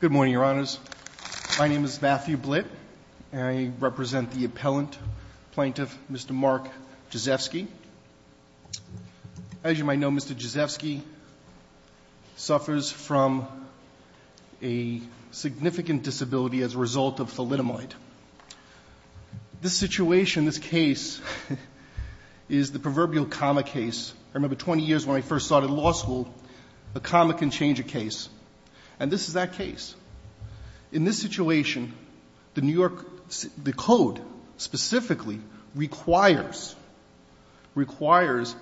Good morning, Your Honors. My name is Matthew Blitt and I represent the appellant, Plaintiff Mr. Mark Gizewski. As you might know, Mr. Gizewski suffers from a significant disability as a result of thalidomide. This situation, this case, is the proverbial comma case. I remember 20 years when I first started law school, a comma can change a case, and this is that case. In this situation, the New York, the code specifically requires, requires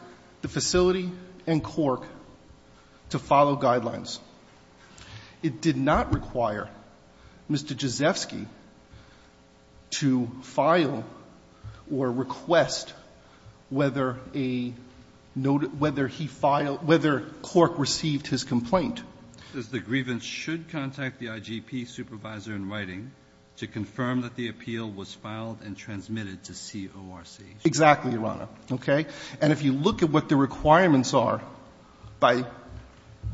the facility and court to follow guidelines. It did not require Mr. Gizewski to file or request whether a, whether he filed, whether court received his complaint. The grievance should contact the IGP supervisor in writing to confirm that the appeal was filed and transmitted to CORC. Exactly, Your Honor. Okay? And if you look at what the requirements are by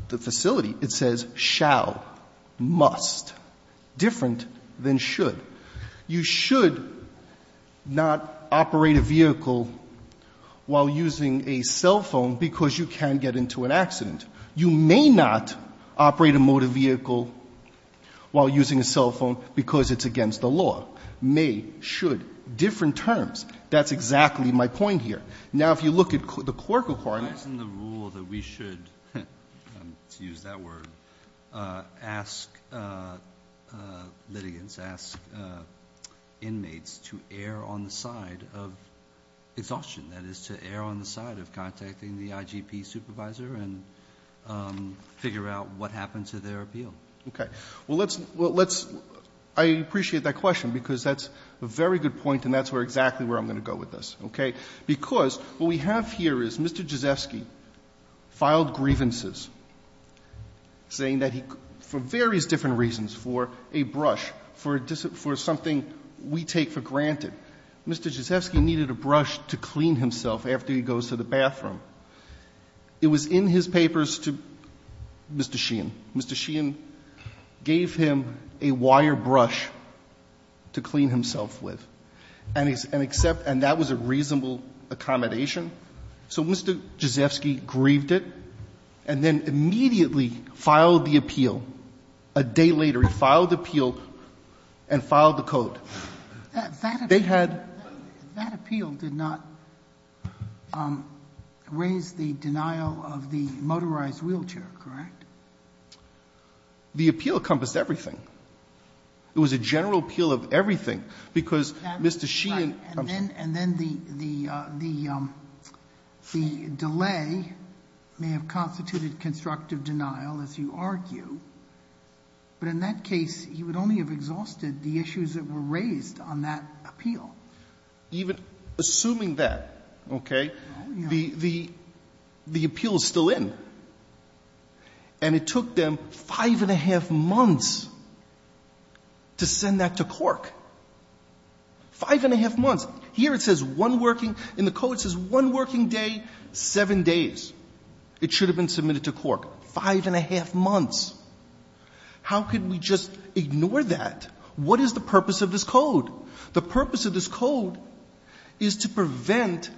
the facility, it says shall, must, different than should. You should not operate a vehicle while using a cell phone because you can get into an accident. You may not operate a motor vehicle while using a cell phone because it's against the law. May, should, different terms. That's exactly my point here. Now if you look at the CORC requirements. Why isn't the rule that we should, to use that word, ask litigants, ask inmates to err on the side of exhaustion, that is to err on the side of contacting the IGP supervisor and figure out what happened to their appeal? Okay. Well, let's, I appreciate that question because that's a very good point and that's exactly where I'm going to go with this. Okay? Because what we have here is Mr. Jazefsky filed grievances saying that he, for various different reasons, for a brush, for something we take for granted. Mr. Jazefsky needed a brush to clean himself after he goes to the bathroom. It was in his papers to Mr. Sheehan. Mr. Sheehan gave him a wire brush to clean himself with and accept, and that was a reasonable accommodation. So Mr. Jazefsky grieved it and then immediately filed the appeal. A day later he filed the appeal and filed the code. They had the appeal did not raise the denial of the motorized wheelchair, correct? The appeal encompassed everything. It was a general appeal of everything, because Mr. Sheehan was not going to do it. Sotomayor And then the delay may have constituted constructive denial, as you argue, but in that case he would only have exhausted the issues that were raised on that appeal. Even assuming that, okay, the appeal is still in. And it took them five and a half months to send that to Cork. Five and a half months. Here it says one working, in the code it says one working day, seven days. It should have been submitted to Cork. Five and a half months. How could we just ignore that? The purpose of this code is to prevent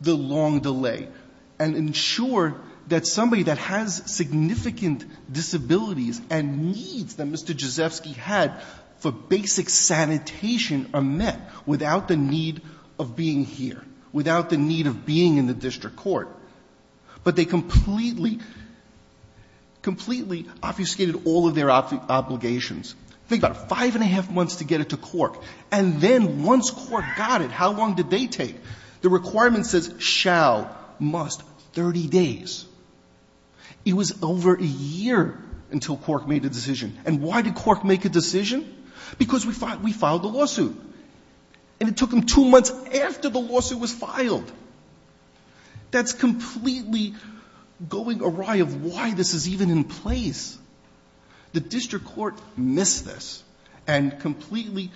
the long delay and ensure that somebody that has significant disabilities and needs that Mr. Jazefsky had for basic sanitation are met without the need of being here, without the need of being in the district court. But they completely, completely obfuscated all of their obligations. Think about it. Five and a half months to get it to Cork. And then once Cork got it, how long did they take? The requirement says shall, must, 30 days. It was over a year until Cork made a decision. And why did Cork make a decision? Because we filed the lawsuit. And it took them two months after the lawsuit was filed. That's completely going awry of why this is even in place. The district court missed this and completely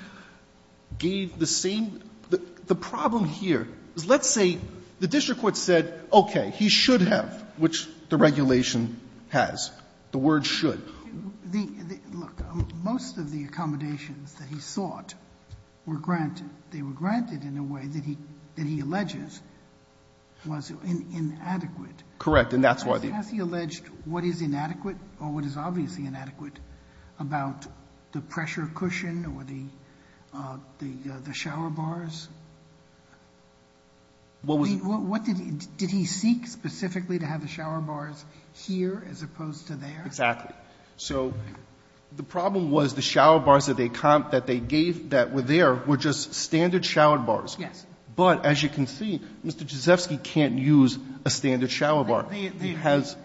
gave the same. The problem here is let's say the district court said, okay, he should have, which the regulation has. The word should. Sotomayor, look, most of the accommodations that he sought were granted. They were inadequate. Correct. And that's why the ---- Has he alleged what is inadequate or what is obviously inadequate about the pressure cushion or the shower bars? What was the ---- I mean, what did he seek specifically to have the shower bars here as opposed to there? Exactly. So the problem was the shower bars that they gave that were there were just standard shower bars. Yes. But as you can see, Mr. Jacefsky can't use a standard shower bar. He has ----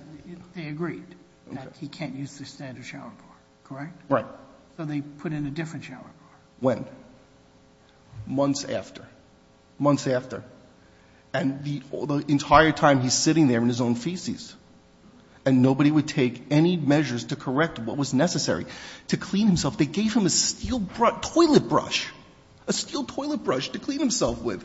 They agreed that he can't use the standard shower bar, correct? Right. So they put in a different shower bar. When? Months after. Months after. And the entire time he's sitting there in his own feces. And nobody would take any measures to correct what was necessary to clean himself. They gave him a steel toilet brush, a steel toilet brush to clean himself with.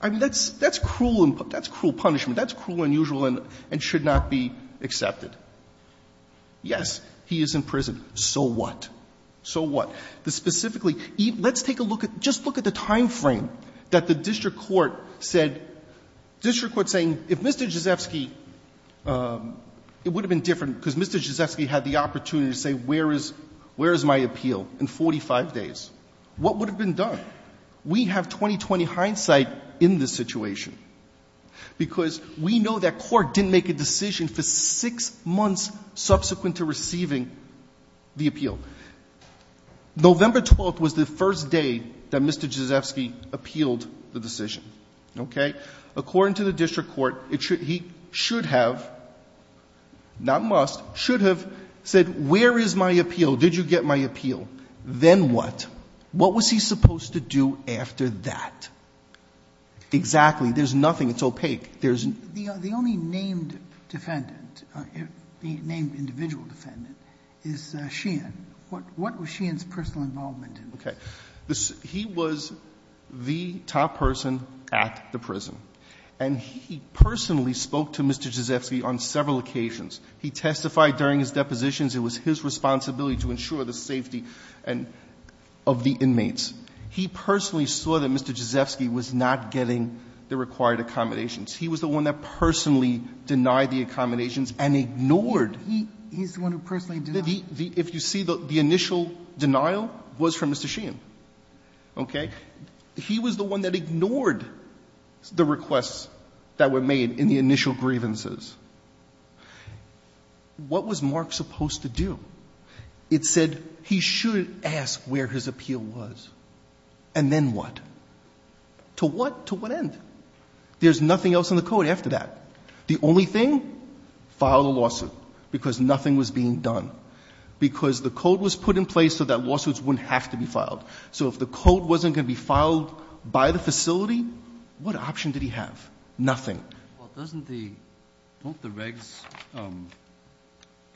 I mean, that's cruel and ---- that's cruel punishment. That's cruel and unusual and should not be accepted. Yes, he is in prison. So what? So what? Specifically, let's take a look at ---- just look at the time frame that the district court said ---- district court saying if Mr. Jacefsky ---- it would have been different because Mr. Jacefsky had the opportunity to say where is my appeal in 45 days. What would have been done? We have 20-20 hindsight in this situation because we know that court didn't make a decision for six months subsequent to receiving the appeal. November 12th was the first day that Mr. Jacefsky appealed the decision. Okay? He should have said where is my appeal? Did you get my appeal? Then what? What was he supposed to do after that? Exactly. There's nothing. It's opaque. There's no ---- The only named defendant, named individual defendant, is Sheehan. What was Sheehan's personal involvement in this? Okay. He was the top person at the prison. And he personally spoke to Mr. Jacefsky on several occasions. He testified during his depositions it was his responsibility to ensure the safety of the inmates. He personally saw that Mr. Jacefsky was not getting the required accommodations. He was the one that personally denied the accommodations and ignored ---- He's the one who personally denied. If you see, the initial denial was from Mr. Sheehan. Okay? He was the one that ignored the requests that were made in the initial grievances. What was Mark supposed to do? It said he should ask where his appeal was. And then what? To what? To what end? There's nothing else in the code after that. The only thing? File a lawsuit because nothing was being done. Because the code was put in place so that lawsuits wouldn't have to be filed. So if the code wasn't going to be filed by the facility, what option did he have? Nothing. Well, doesn't the, don't the regs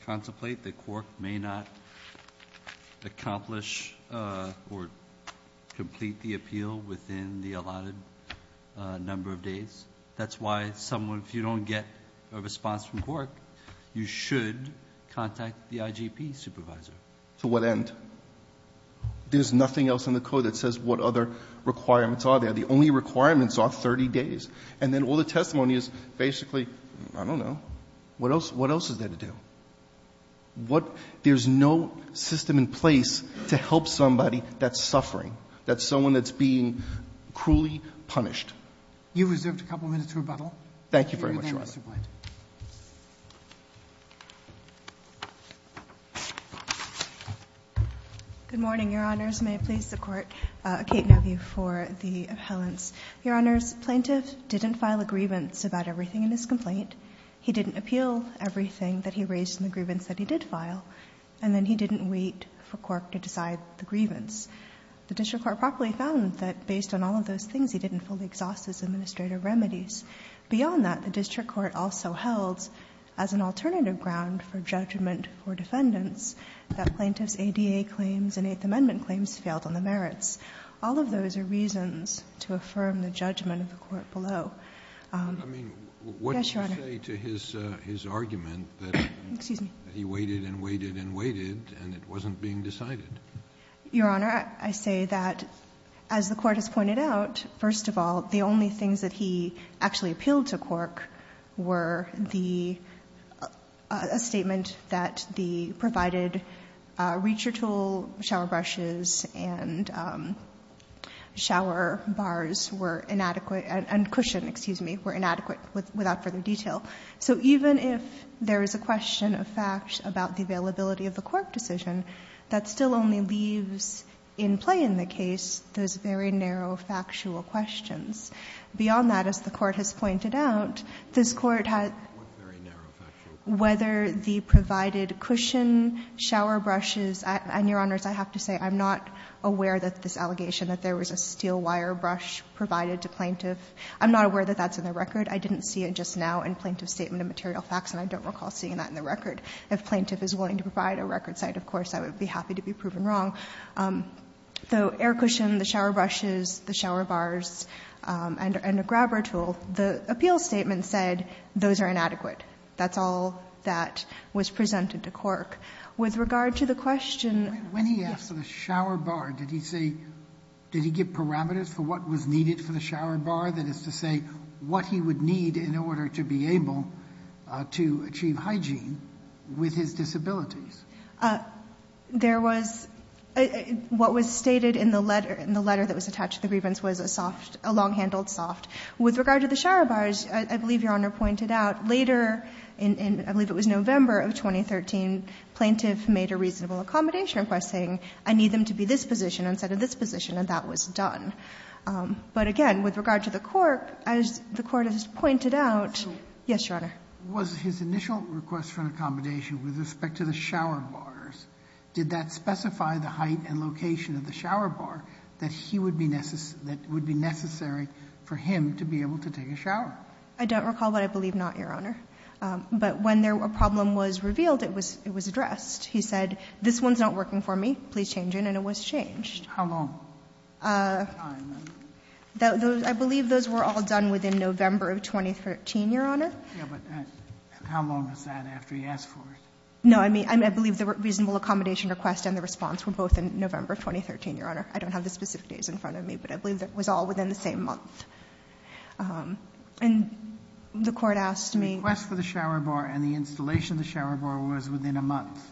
contemplate that Cork may not accomplish or complete the appeal within the allotted number of days? That's why someone, if you don't get a response from Cork, you should contact the IGP supervisor. To what end? There's nothing else in the code that says what other requirements are there. The only requirements are 30 days. And then all the testimony is basically, I don't know. What else, what else is there to do? What, there's no system in place to help somebody that's suffering, that's someone that's being cruelly punished. You've reserved a couple minutes for rebuttal. Thank you very much, Your Honor. Mr. Blanton. Good morning, Your Honors. May it please the Court. Kate Neville for the appellants. Your Honors, Plaintiff didn't file a grievance about everything in his complaint. He didn't appeal everything that he raised in the grievance that he did file. And then he didn't wait for Cork to decide the grievance. The district court properly found that based on all of those things, he didn't fully exhaust his administrative remedies. Beyond that, the district court also held, as an alternative ground for judgment for defendants, that Plaintiff's ADA claims and Eighth Amendment claims failed on the merits. All of those are reasons to affirm the judgment of the court below. Yes, Your Honor. I mean, what did you say to his argument that he waited and waited and waited and it wasn't being decided? Your Honor, I say that, as the Court has pointed out, first of all, the only things that he actually appealed to Cork were the statement that the provided reacher tool, shower brushes and shower bars were inadequate and cushion, excuse me, were inadequate without further detail. So even if there is a question of fact about the availability of the Cork decision, that still only leaves in play in the case those very narrow factual questions. Beyond that, as the Court has pointed out, this Court had whether the provided cushion, shower brushes, and, Your Honors, I have to say I'm not aware that this allegation that there was a steel wire brush provided to Plaintiff. I'm not aware that that's in the record. I didn't see it just now in Plaintiff's statement of material facts and I don't recall seeing that in the record. If Plaintiff is willing to provide a record site, of course, I would be happy to be proven wrong. So air cushion, the shower brushes, the shower bars, and a grabber tool, the appeal statement said those are inadequate. That's all that was presented to Cork. With regard to the question of the shower bar, did he say, did he give parameters for what was needed for the shower bar, that is to say what he would need in order to be able to achieve hygiene with his disabilities? There was, what was stated in the letter that was attached to the grievance was a soft, a long-handled soft. With regard to the shower bars, I believe Your Honor pointed out later, I believe it was November of 2013, Plaintiff made a reasonable accommodation request saying I need them to be this position instead of this position, and that was done. But again, with regard to the Cork, as the Court has pointed out, yes, Your Honor. Was his initial request for an accommodation with respect to the shower bars, did that specify the height and location of the shower bar that he would be necessary for him to be able to take a shower? I don't recall, but I believe not, Your Honor. But when a problem was revealed, it was addressed. He said this one is not working for me, please change it, and it was changed. How long? I believe those were all done within November of 2013, Your Honor. Yes, but how long was that after he asked for it? No. I mean, I believe the reasonable accommodation request and the response were both in November of 2013, Your Honor. I don't have the specific dates in front of me, but I believe it was all within the same month. And the Court asked me. The request for the shower bar and the installation of the shower bar was within a month.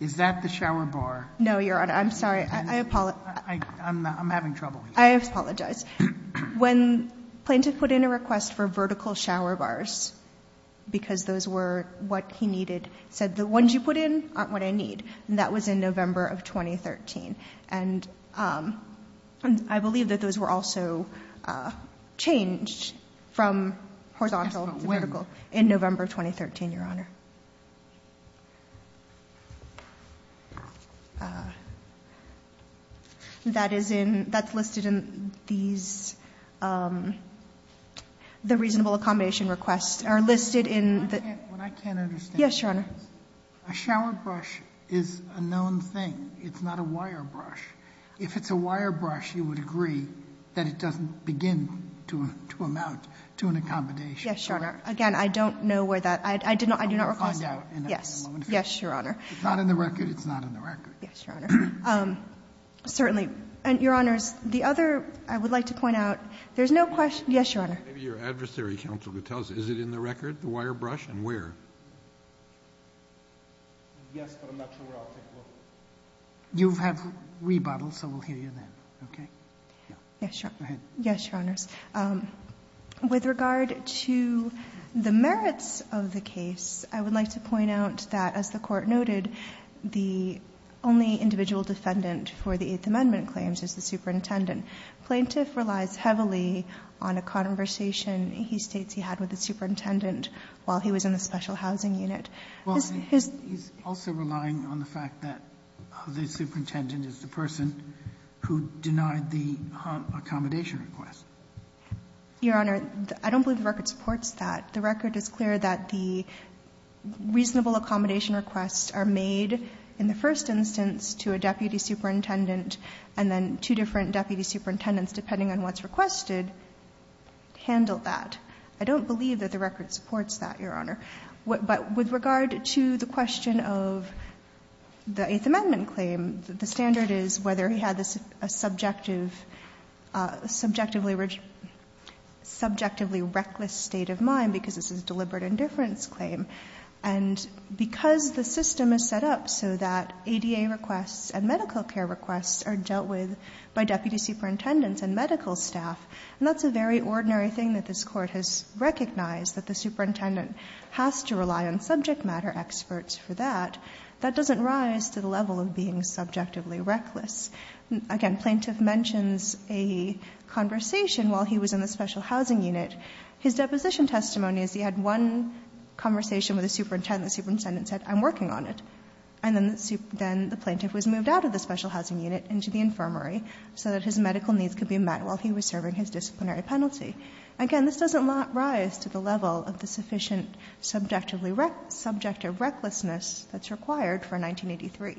Is that the shower bar? No, Your Honor. I'm sorry. I apologize. I'm having trouble here. I apologize. When Plaintiff put in a request for vertical shower bars because those were what he needed, he said the ones you put in aren't what I need, and that was in November of 2013. And I believe that those were also changed from horizontal to vertical in November of 2013, Your Honor. That is in, that's listed in these, the reasonable accommodation requests are listed in the. What I can't understand. Yes, Your Honor. A shower brush is a known thing. It's not a wire brush. If it's a wire brush, you would agree that it doesn't begin to amount to an accommodation. Yes, Your Honor. Again, I don't know where that, I do not know where that is. I will find out in a moment. Yes. Yes, Your Honor. It's not in the record. It's not in the record. Yes, Your Honor. Certainly. Your Honors, the other, I would like to point out, there's no question. Yes, Your Honor. Maybe your adversary counsel could tell us. Is it in the record, the wire brush, and where? Yes, but I'm not sure where I'll take a look. You have rebuttal, so we'll hear you then. Okay? Yes, Your Honor. Go ahead. Yes, Your Honors. With regard to the merits of the case, I would like to point out that, as the Court noted, the only individual defendant for the Eighth Amendment claims is the superintendent. Plaintiff relies heavily on a conversation he states he had with the superintendent while he was in the special housing unit. Well, he's also relying on the fact that the superintendent is the person who denied the accommodation request. Your Honor, I don't believe the record supports that. The record is clear that the reasonable accommodation requests are made in the first instance to a deputy superintendent, and then two different deputy superintendents, depending on what's requested, handle that. I don't believe that the record supports that, Your Honor. But with regard to the question of the Eighth Amendment claim, the standard is whether he had a subjectively reckless state of mind, because this is a deliberate indifference claim. And because the system is set up so that ADA requests and medical care requests are dealt with by deputy superintendents and medical staff, and that's a very ordinary thing that this Court has recognized, that the superintendent has to rely on subject matter experts for Again, plaintiff mentions a conversation while he was in the special housing unit. His deposition testimony is he had one conversation with a superintendent. The superintendent said, I'm working on it. And then the plaintiff was moved out of the special housing unit into the infirmary so that his medical needs could be met while he was serving his disciplinary penalty. Again, this doesn't rise to the level of the sufficient subjective recklessness that's required for 1983.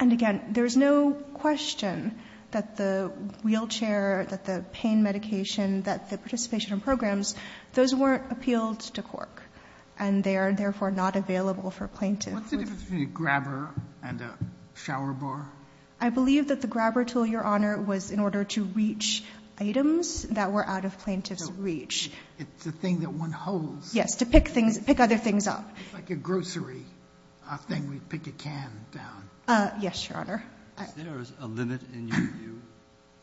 And again, there's no question that the wheelchair, that the pain medication, that the participation in programs, those weren't appealed to Cork. And they are therefore not available for plaintiff. What's the difference between a grabber and a shower bar? I believe that the grabber tool, Your Honor, was in order to reach items that were out of plaintiff's reach. It's the thing that one holds. Yes, to pick things, pick other things up. It's like a grocery thing. We pick a can down. Yes, Your Honor. Is there a limit in your view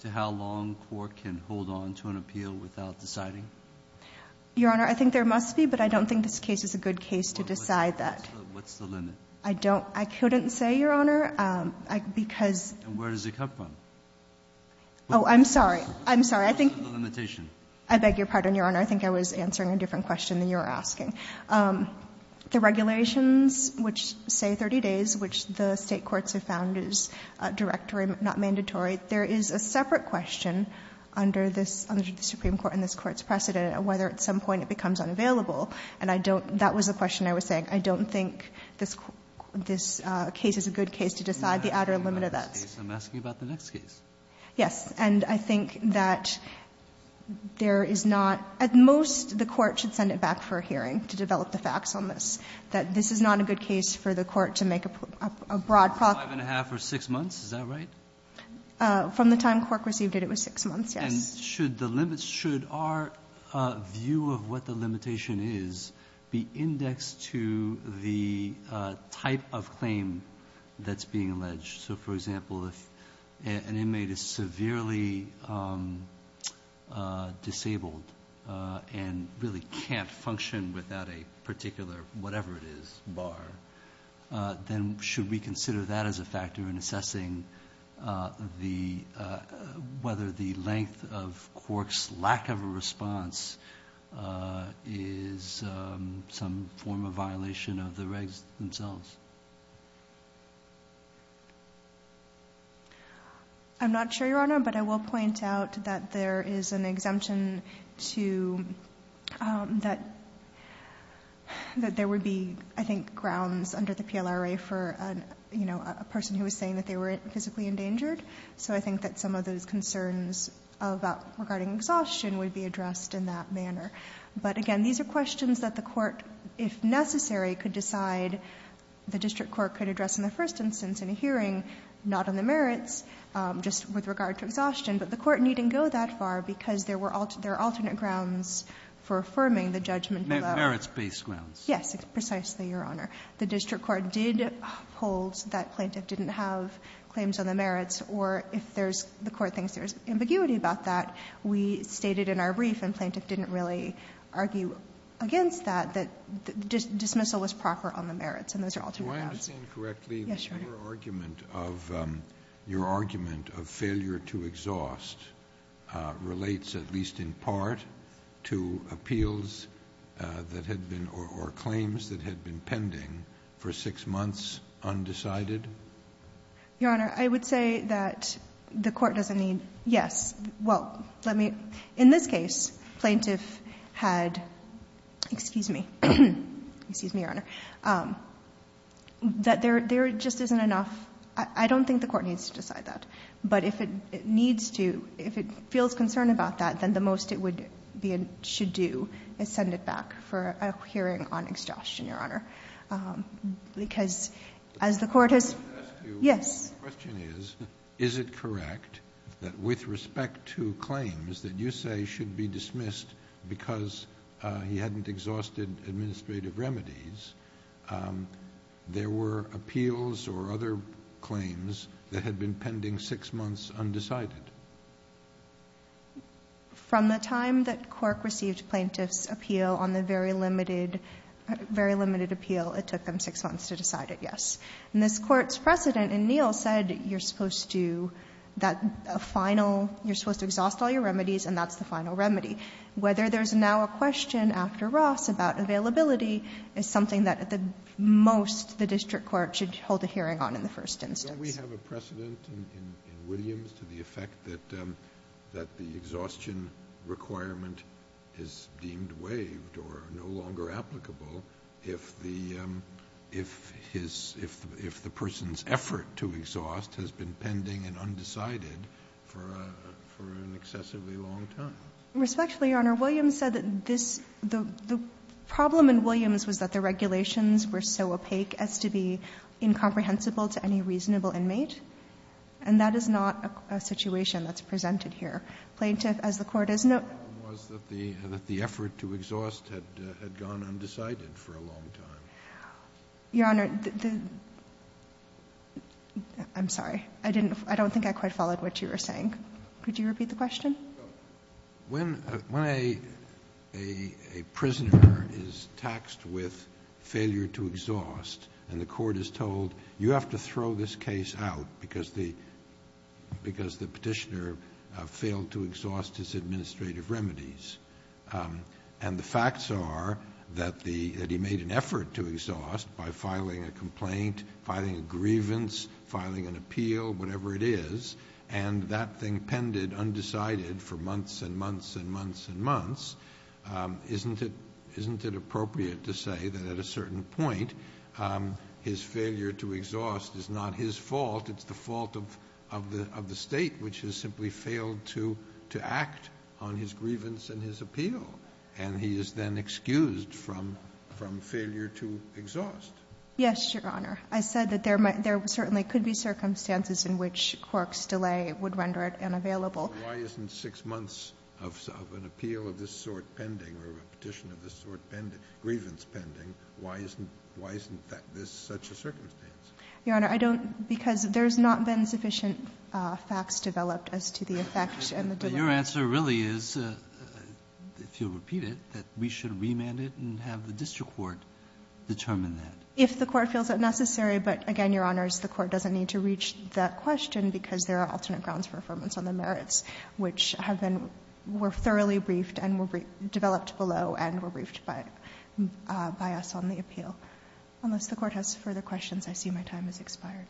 to how long Cork can hold on to an appeal without deciding? Your Honor, I think there must be, but I don't think this case is a good case to decide that. What's the limit? I don't. I couldn't say, Your Honor, because And where does it come from? Oh, I'm sorry. I'm sorry. I think What's the limitation? I beg your pardon, Your Honor. I think I was answering a different question than you were asking. The regulations which say 30 days, which the State courts have found is directory not mandatory, there is a separate question under this, under the Supreme Court and this Court's precedent of whether at some point it becomes unavailable. And I don't, that was the question I was saying. I don't think this case is a good case to decide the outer limit of that. I'm asking about the next case. Yes. And I think that there is not, at most the Court should send it back for a hearing. To develop the facts on this. That this is not a good case for the Court to make a broad proclamation. Five and a half or six months. Is that right? From the time the Court received it, it was six months. Yes. And should the limits, should our view of what the limitation is be indexed to the type of claim that's being alleged? So for example, if an inmate is severely disabled and really can't function without a particular, whatever it is, bar, then should we consider that as a factor in assessing the, whether the length of Cork's lack of a response is some form of violation of the regs themselves? I'm not sure, Your Honor, but I will point out that there is an exemption to, that there would be, I think, grounds under the PLRA for, you know, a person who was saying that they were physically endangered. So I think that some of those concerns about, regarding exhaustion would be addressed in that manner. But again, these are questions that the Court, if necessary, could decide, the district court could address in the first instance in a hearing, not on the merits, just with regard to exhaustion. But the Court needn't go that far because there are alternate grounds for affirming the judgment below. Merits-based grounds. Yes, precisely, Your Honor. The district court did hold that plaintiff didn't have claims on the merits, or if there's, the Court thinks there's ambiguity about that, we stated in our brief and plaintiff didn't really argue against that, that dismissal was proper on the merits and those are alternate grounds. Do I understand correctly that your argument of, your argument of failure to exhaust relates at least in part to appeals that had been, or claims that had been pending for six months undecided? Your Honor, I would say that the Court doesn't need, yes, well, let me, in this case, plaintiff had, excuse me, excuse me, Your Honor, that there just isn't enough, I don't think the Court needs to decide that. But if it needs to, if it feels concerned about that, then the most it would, should do is send it back for a hearing on exhaustion, Your Honor. Because as the Court has, yes. The question is, is it correct that with respect to claims that you say should be dismissed because he hadn't exhausted administrative remedies, there were appeals or other claims that had been pending six months undecided? From the time that Cork received plaintiff's appeal on the very limited, very limited appeal, it took them six months to decide it, yes. And this Court's precedent in Neal said you're supposed to, that final, you're supposed to exhaust all your remedies and that's the final remedy. Whether there's now a question after Ross about availability is something that at the most the district court should hold a hearing on in the first instance. Kennedy. Don't we have a precedent in Williams to the effect that the exhaustion requirement is deemed waived or no longer applicable if the, if his, if the person's effort to exhaust has been pending and undecided for an excessively long time? Respectfully, Your Honor, Williams said that this, the problem in Williams was that the regulations were so opaque as to be incomprehensible to any reasonable inmate, and that is not a situation that's presented here. Plaintiff, as the Court has noticed. The problem was that the effort to exhaust had gone undecided for a long time. Your Honor, the, I'm sorry. I didn't, I don't think I quite followed what you were saying. Could you repeat the question? When a prisoner is taxed with failure to exhaust, and the court is told, you have to throw this case out because the petitioner failed to exhaust his administrative remedies, and the facts are that he made an effort to exhaust by filing a complaint, filing a grievance, filing an appeal, whatever it is, and that thing pended undecided for months and months and months and months, isn't it, isn't it appropriate to say that at a certain point, his failure to exhaust is not his fault, it's the fault of the State, which has simply failed to act on his grievance and his appeal, and he is then excused from failure to exhaust? Yes, Your Honor. I said that there certainly could be circumstances in which Cork's delay would render it unavailable. Why isn't 6 months of an appeal of this sort pending or a petition of this sort pending, grievance pending, why isn't this such a circumstance? Your Honor, I don't, because there's not been sufficient facts developed as to the effect and the delay. But your answer really is, if you'll repeat it, that we should remand it and have the district court determine that. If the Court feels it necessary, but again, Your Honors, the Court doesn't need to reach that question because there are alternate grounds for affirmance on the merits, which have been thoroughly briefed and developed below and were briefed by us on the appeal. Unless the Court has further questions, I see my time has expired.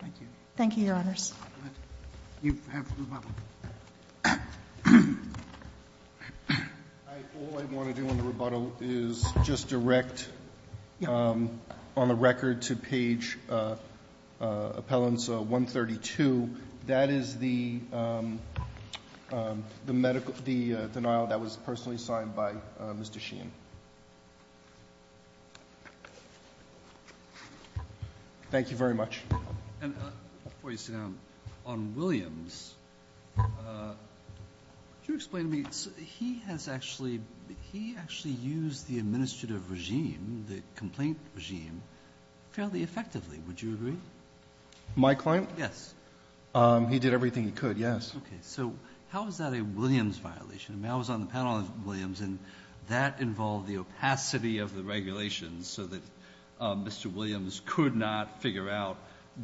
Thank you, Your Honors. You have rebuttal. All I want to do on the rebuttal is just direct on the record to page appellant 132, that is the medical, the denial that was personally signed by Mr. Sheehan. Thank you very much. Before you sit down, on Williams, could you explain to me, he has actually, he actually used the administrative regime, the complaint regime, fairly effectively. Would you agree? My client? Yes. He did everything he could, yes. Okay, so how is that a Williams violation? I mean, I was on the panel with Williams, and that involved the opacity of the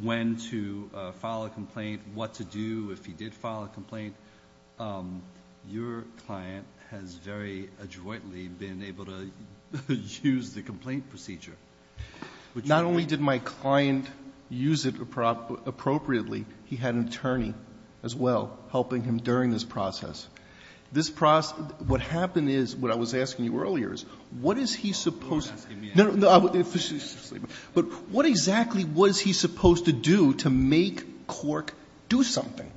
when to file a complaint, what to do if he did file a complaint. Your client has very adroitly been able to use the complaint procedure. Not only did my client use it appropriately, he had an attorney as well helping him during this process. This process, what happened is, what I was asking you earlier is, what is he supposed to do? But what exactly was he supposed to do to make Cork do something?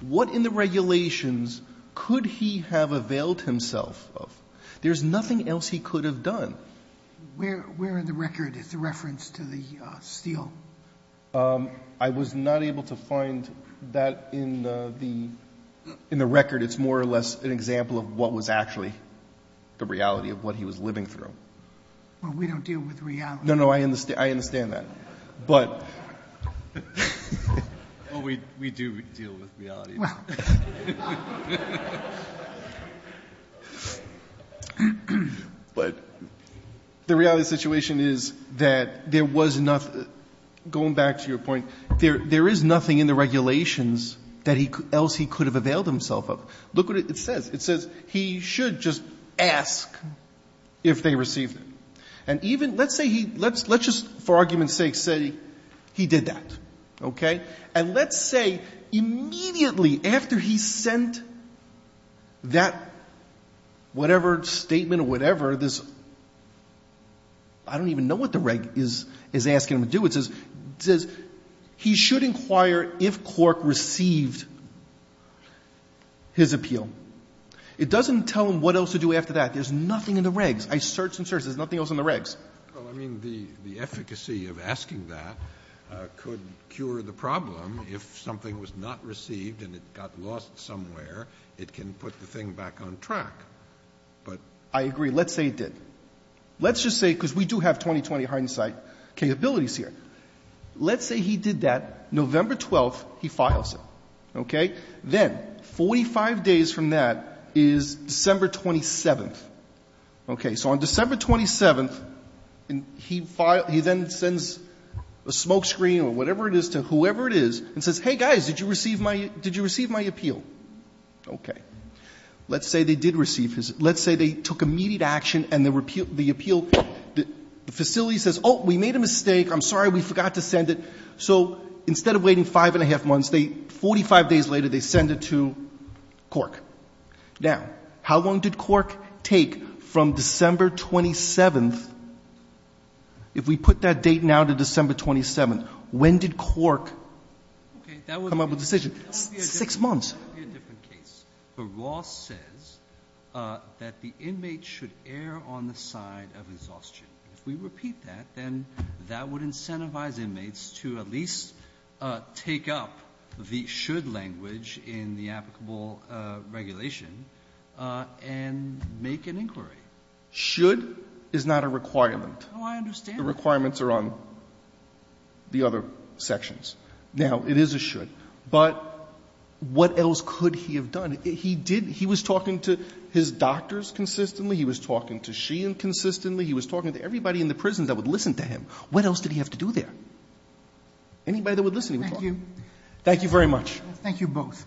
What in the regulations could he have availed himself of? There is nothing else he could have done. Where in the record is the reference to the steal? I was not able to find that in the record. It's more or less an example of what was actually the reality of what he was living through. Well, we don't deal with reality. No, no, I understand that. Well, we do deal with reality. But the reality of the situation is that there was nothing, going back to your point, there is nothing in the regulations that else he could have availed himself of. Look what it says. It says he should just ask if they received it. Let's just, for argument's sake, say he did that. And let's say immediately after he sent that whatever statement or whatever, I don't even know what the reg is asking him to do. It says he should inquire if Cork received his appeal. It doesn't tell him what else to do after that. There is nothing in the regs. I search and search. There is nothing else in the regs. Well, I mean, the efficacy of asking that could cure the problem. If something was not received and it got lost somewhere, it can put the thing back on track. I agree. Let's say he did. Let's just say, because we do have 2020 hindsight capabilities here. Let's say he did that. November 12th, he files it. Okay? Then 45 days from that is December 27th. Okay. So on December 27th, he then sends a smoke screen or whatever it is to whoever it is and says, hey, guys, did you receive my appeal? Okay. Let's say they did receive his. Let's say they took immediate action and the appeal, the facility says, oh, we made a mistake. I'm sorry. We forgot to send it. So instead of waiting five and a half months, 45 days later they send it to Cork. Now, how long did Cork take from December 27th? If we put that date now to December 27th, when did Cork come up with a decision? Six months. That would be a different case. But Ross says that the inmate should err on the side of exhaustion. If we repeat that, then that would incentivize inmates to at least take up the should language in the applicable regulation and make an inquiry. Should is not a requirement. Oh, I understand that. The requirements are on the other sections. Now, it is a should. But what else could he have done? He did he was talking to his doctors consistently. He was talking to Sheehan consistently. He was talking to everybody in the prison that would listen to him. What else did he have to do there? Anybody that would listen to him. Thank you. Thank you very much. Thank you both.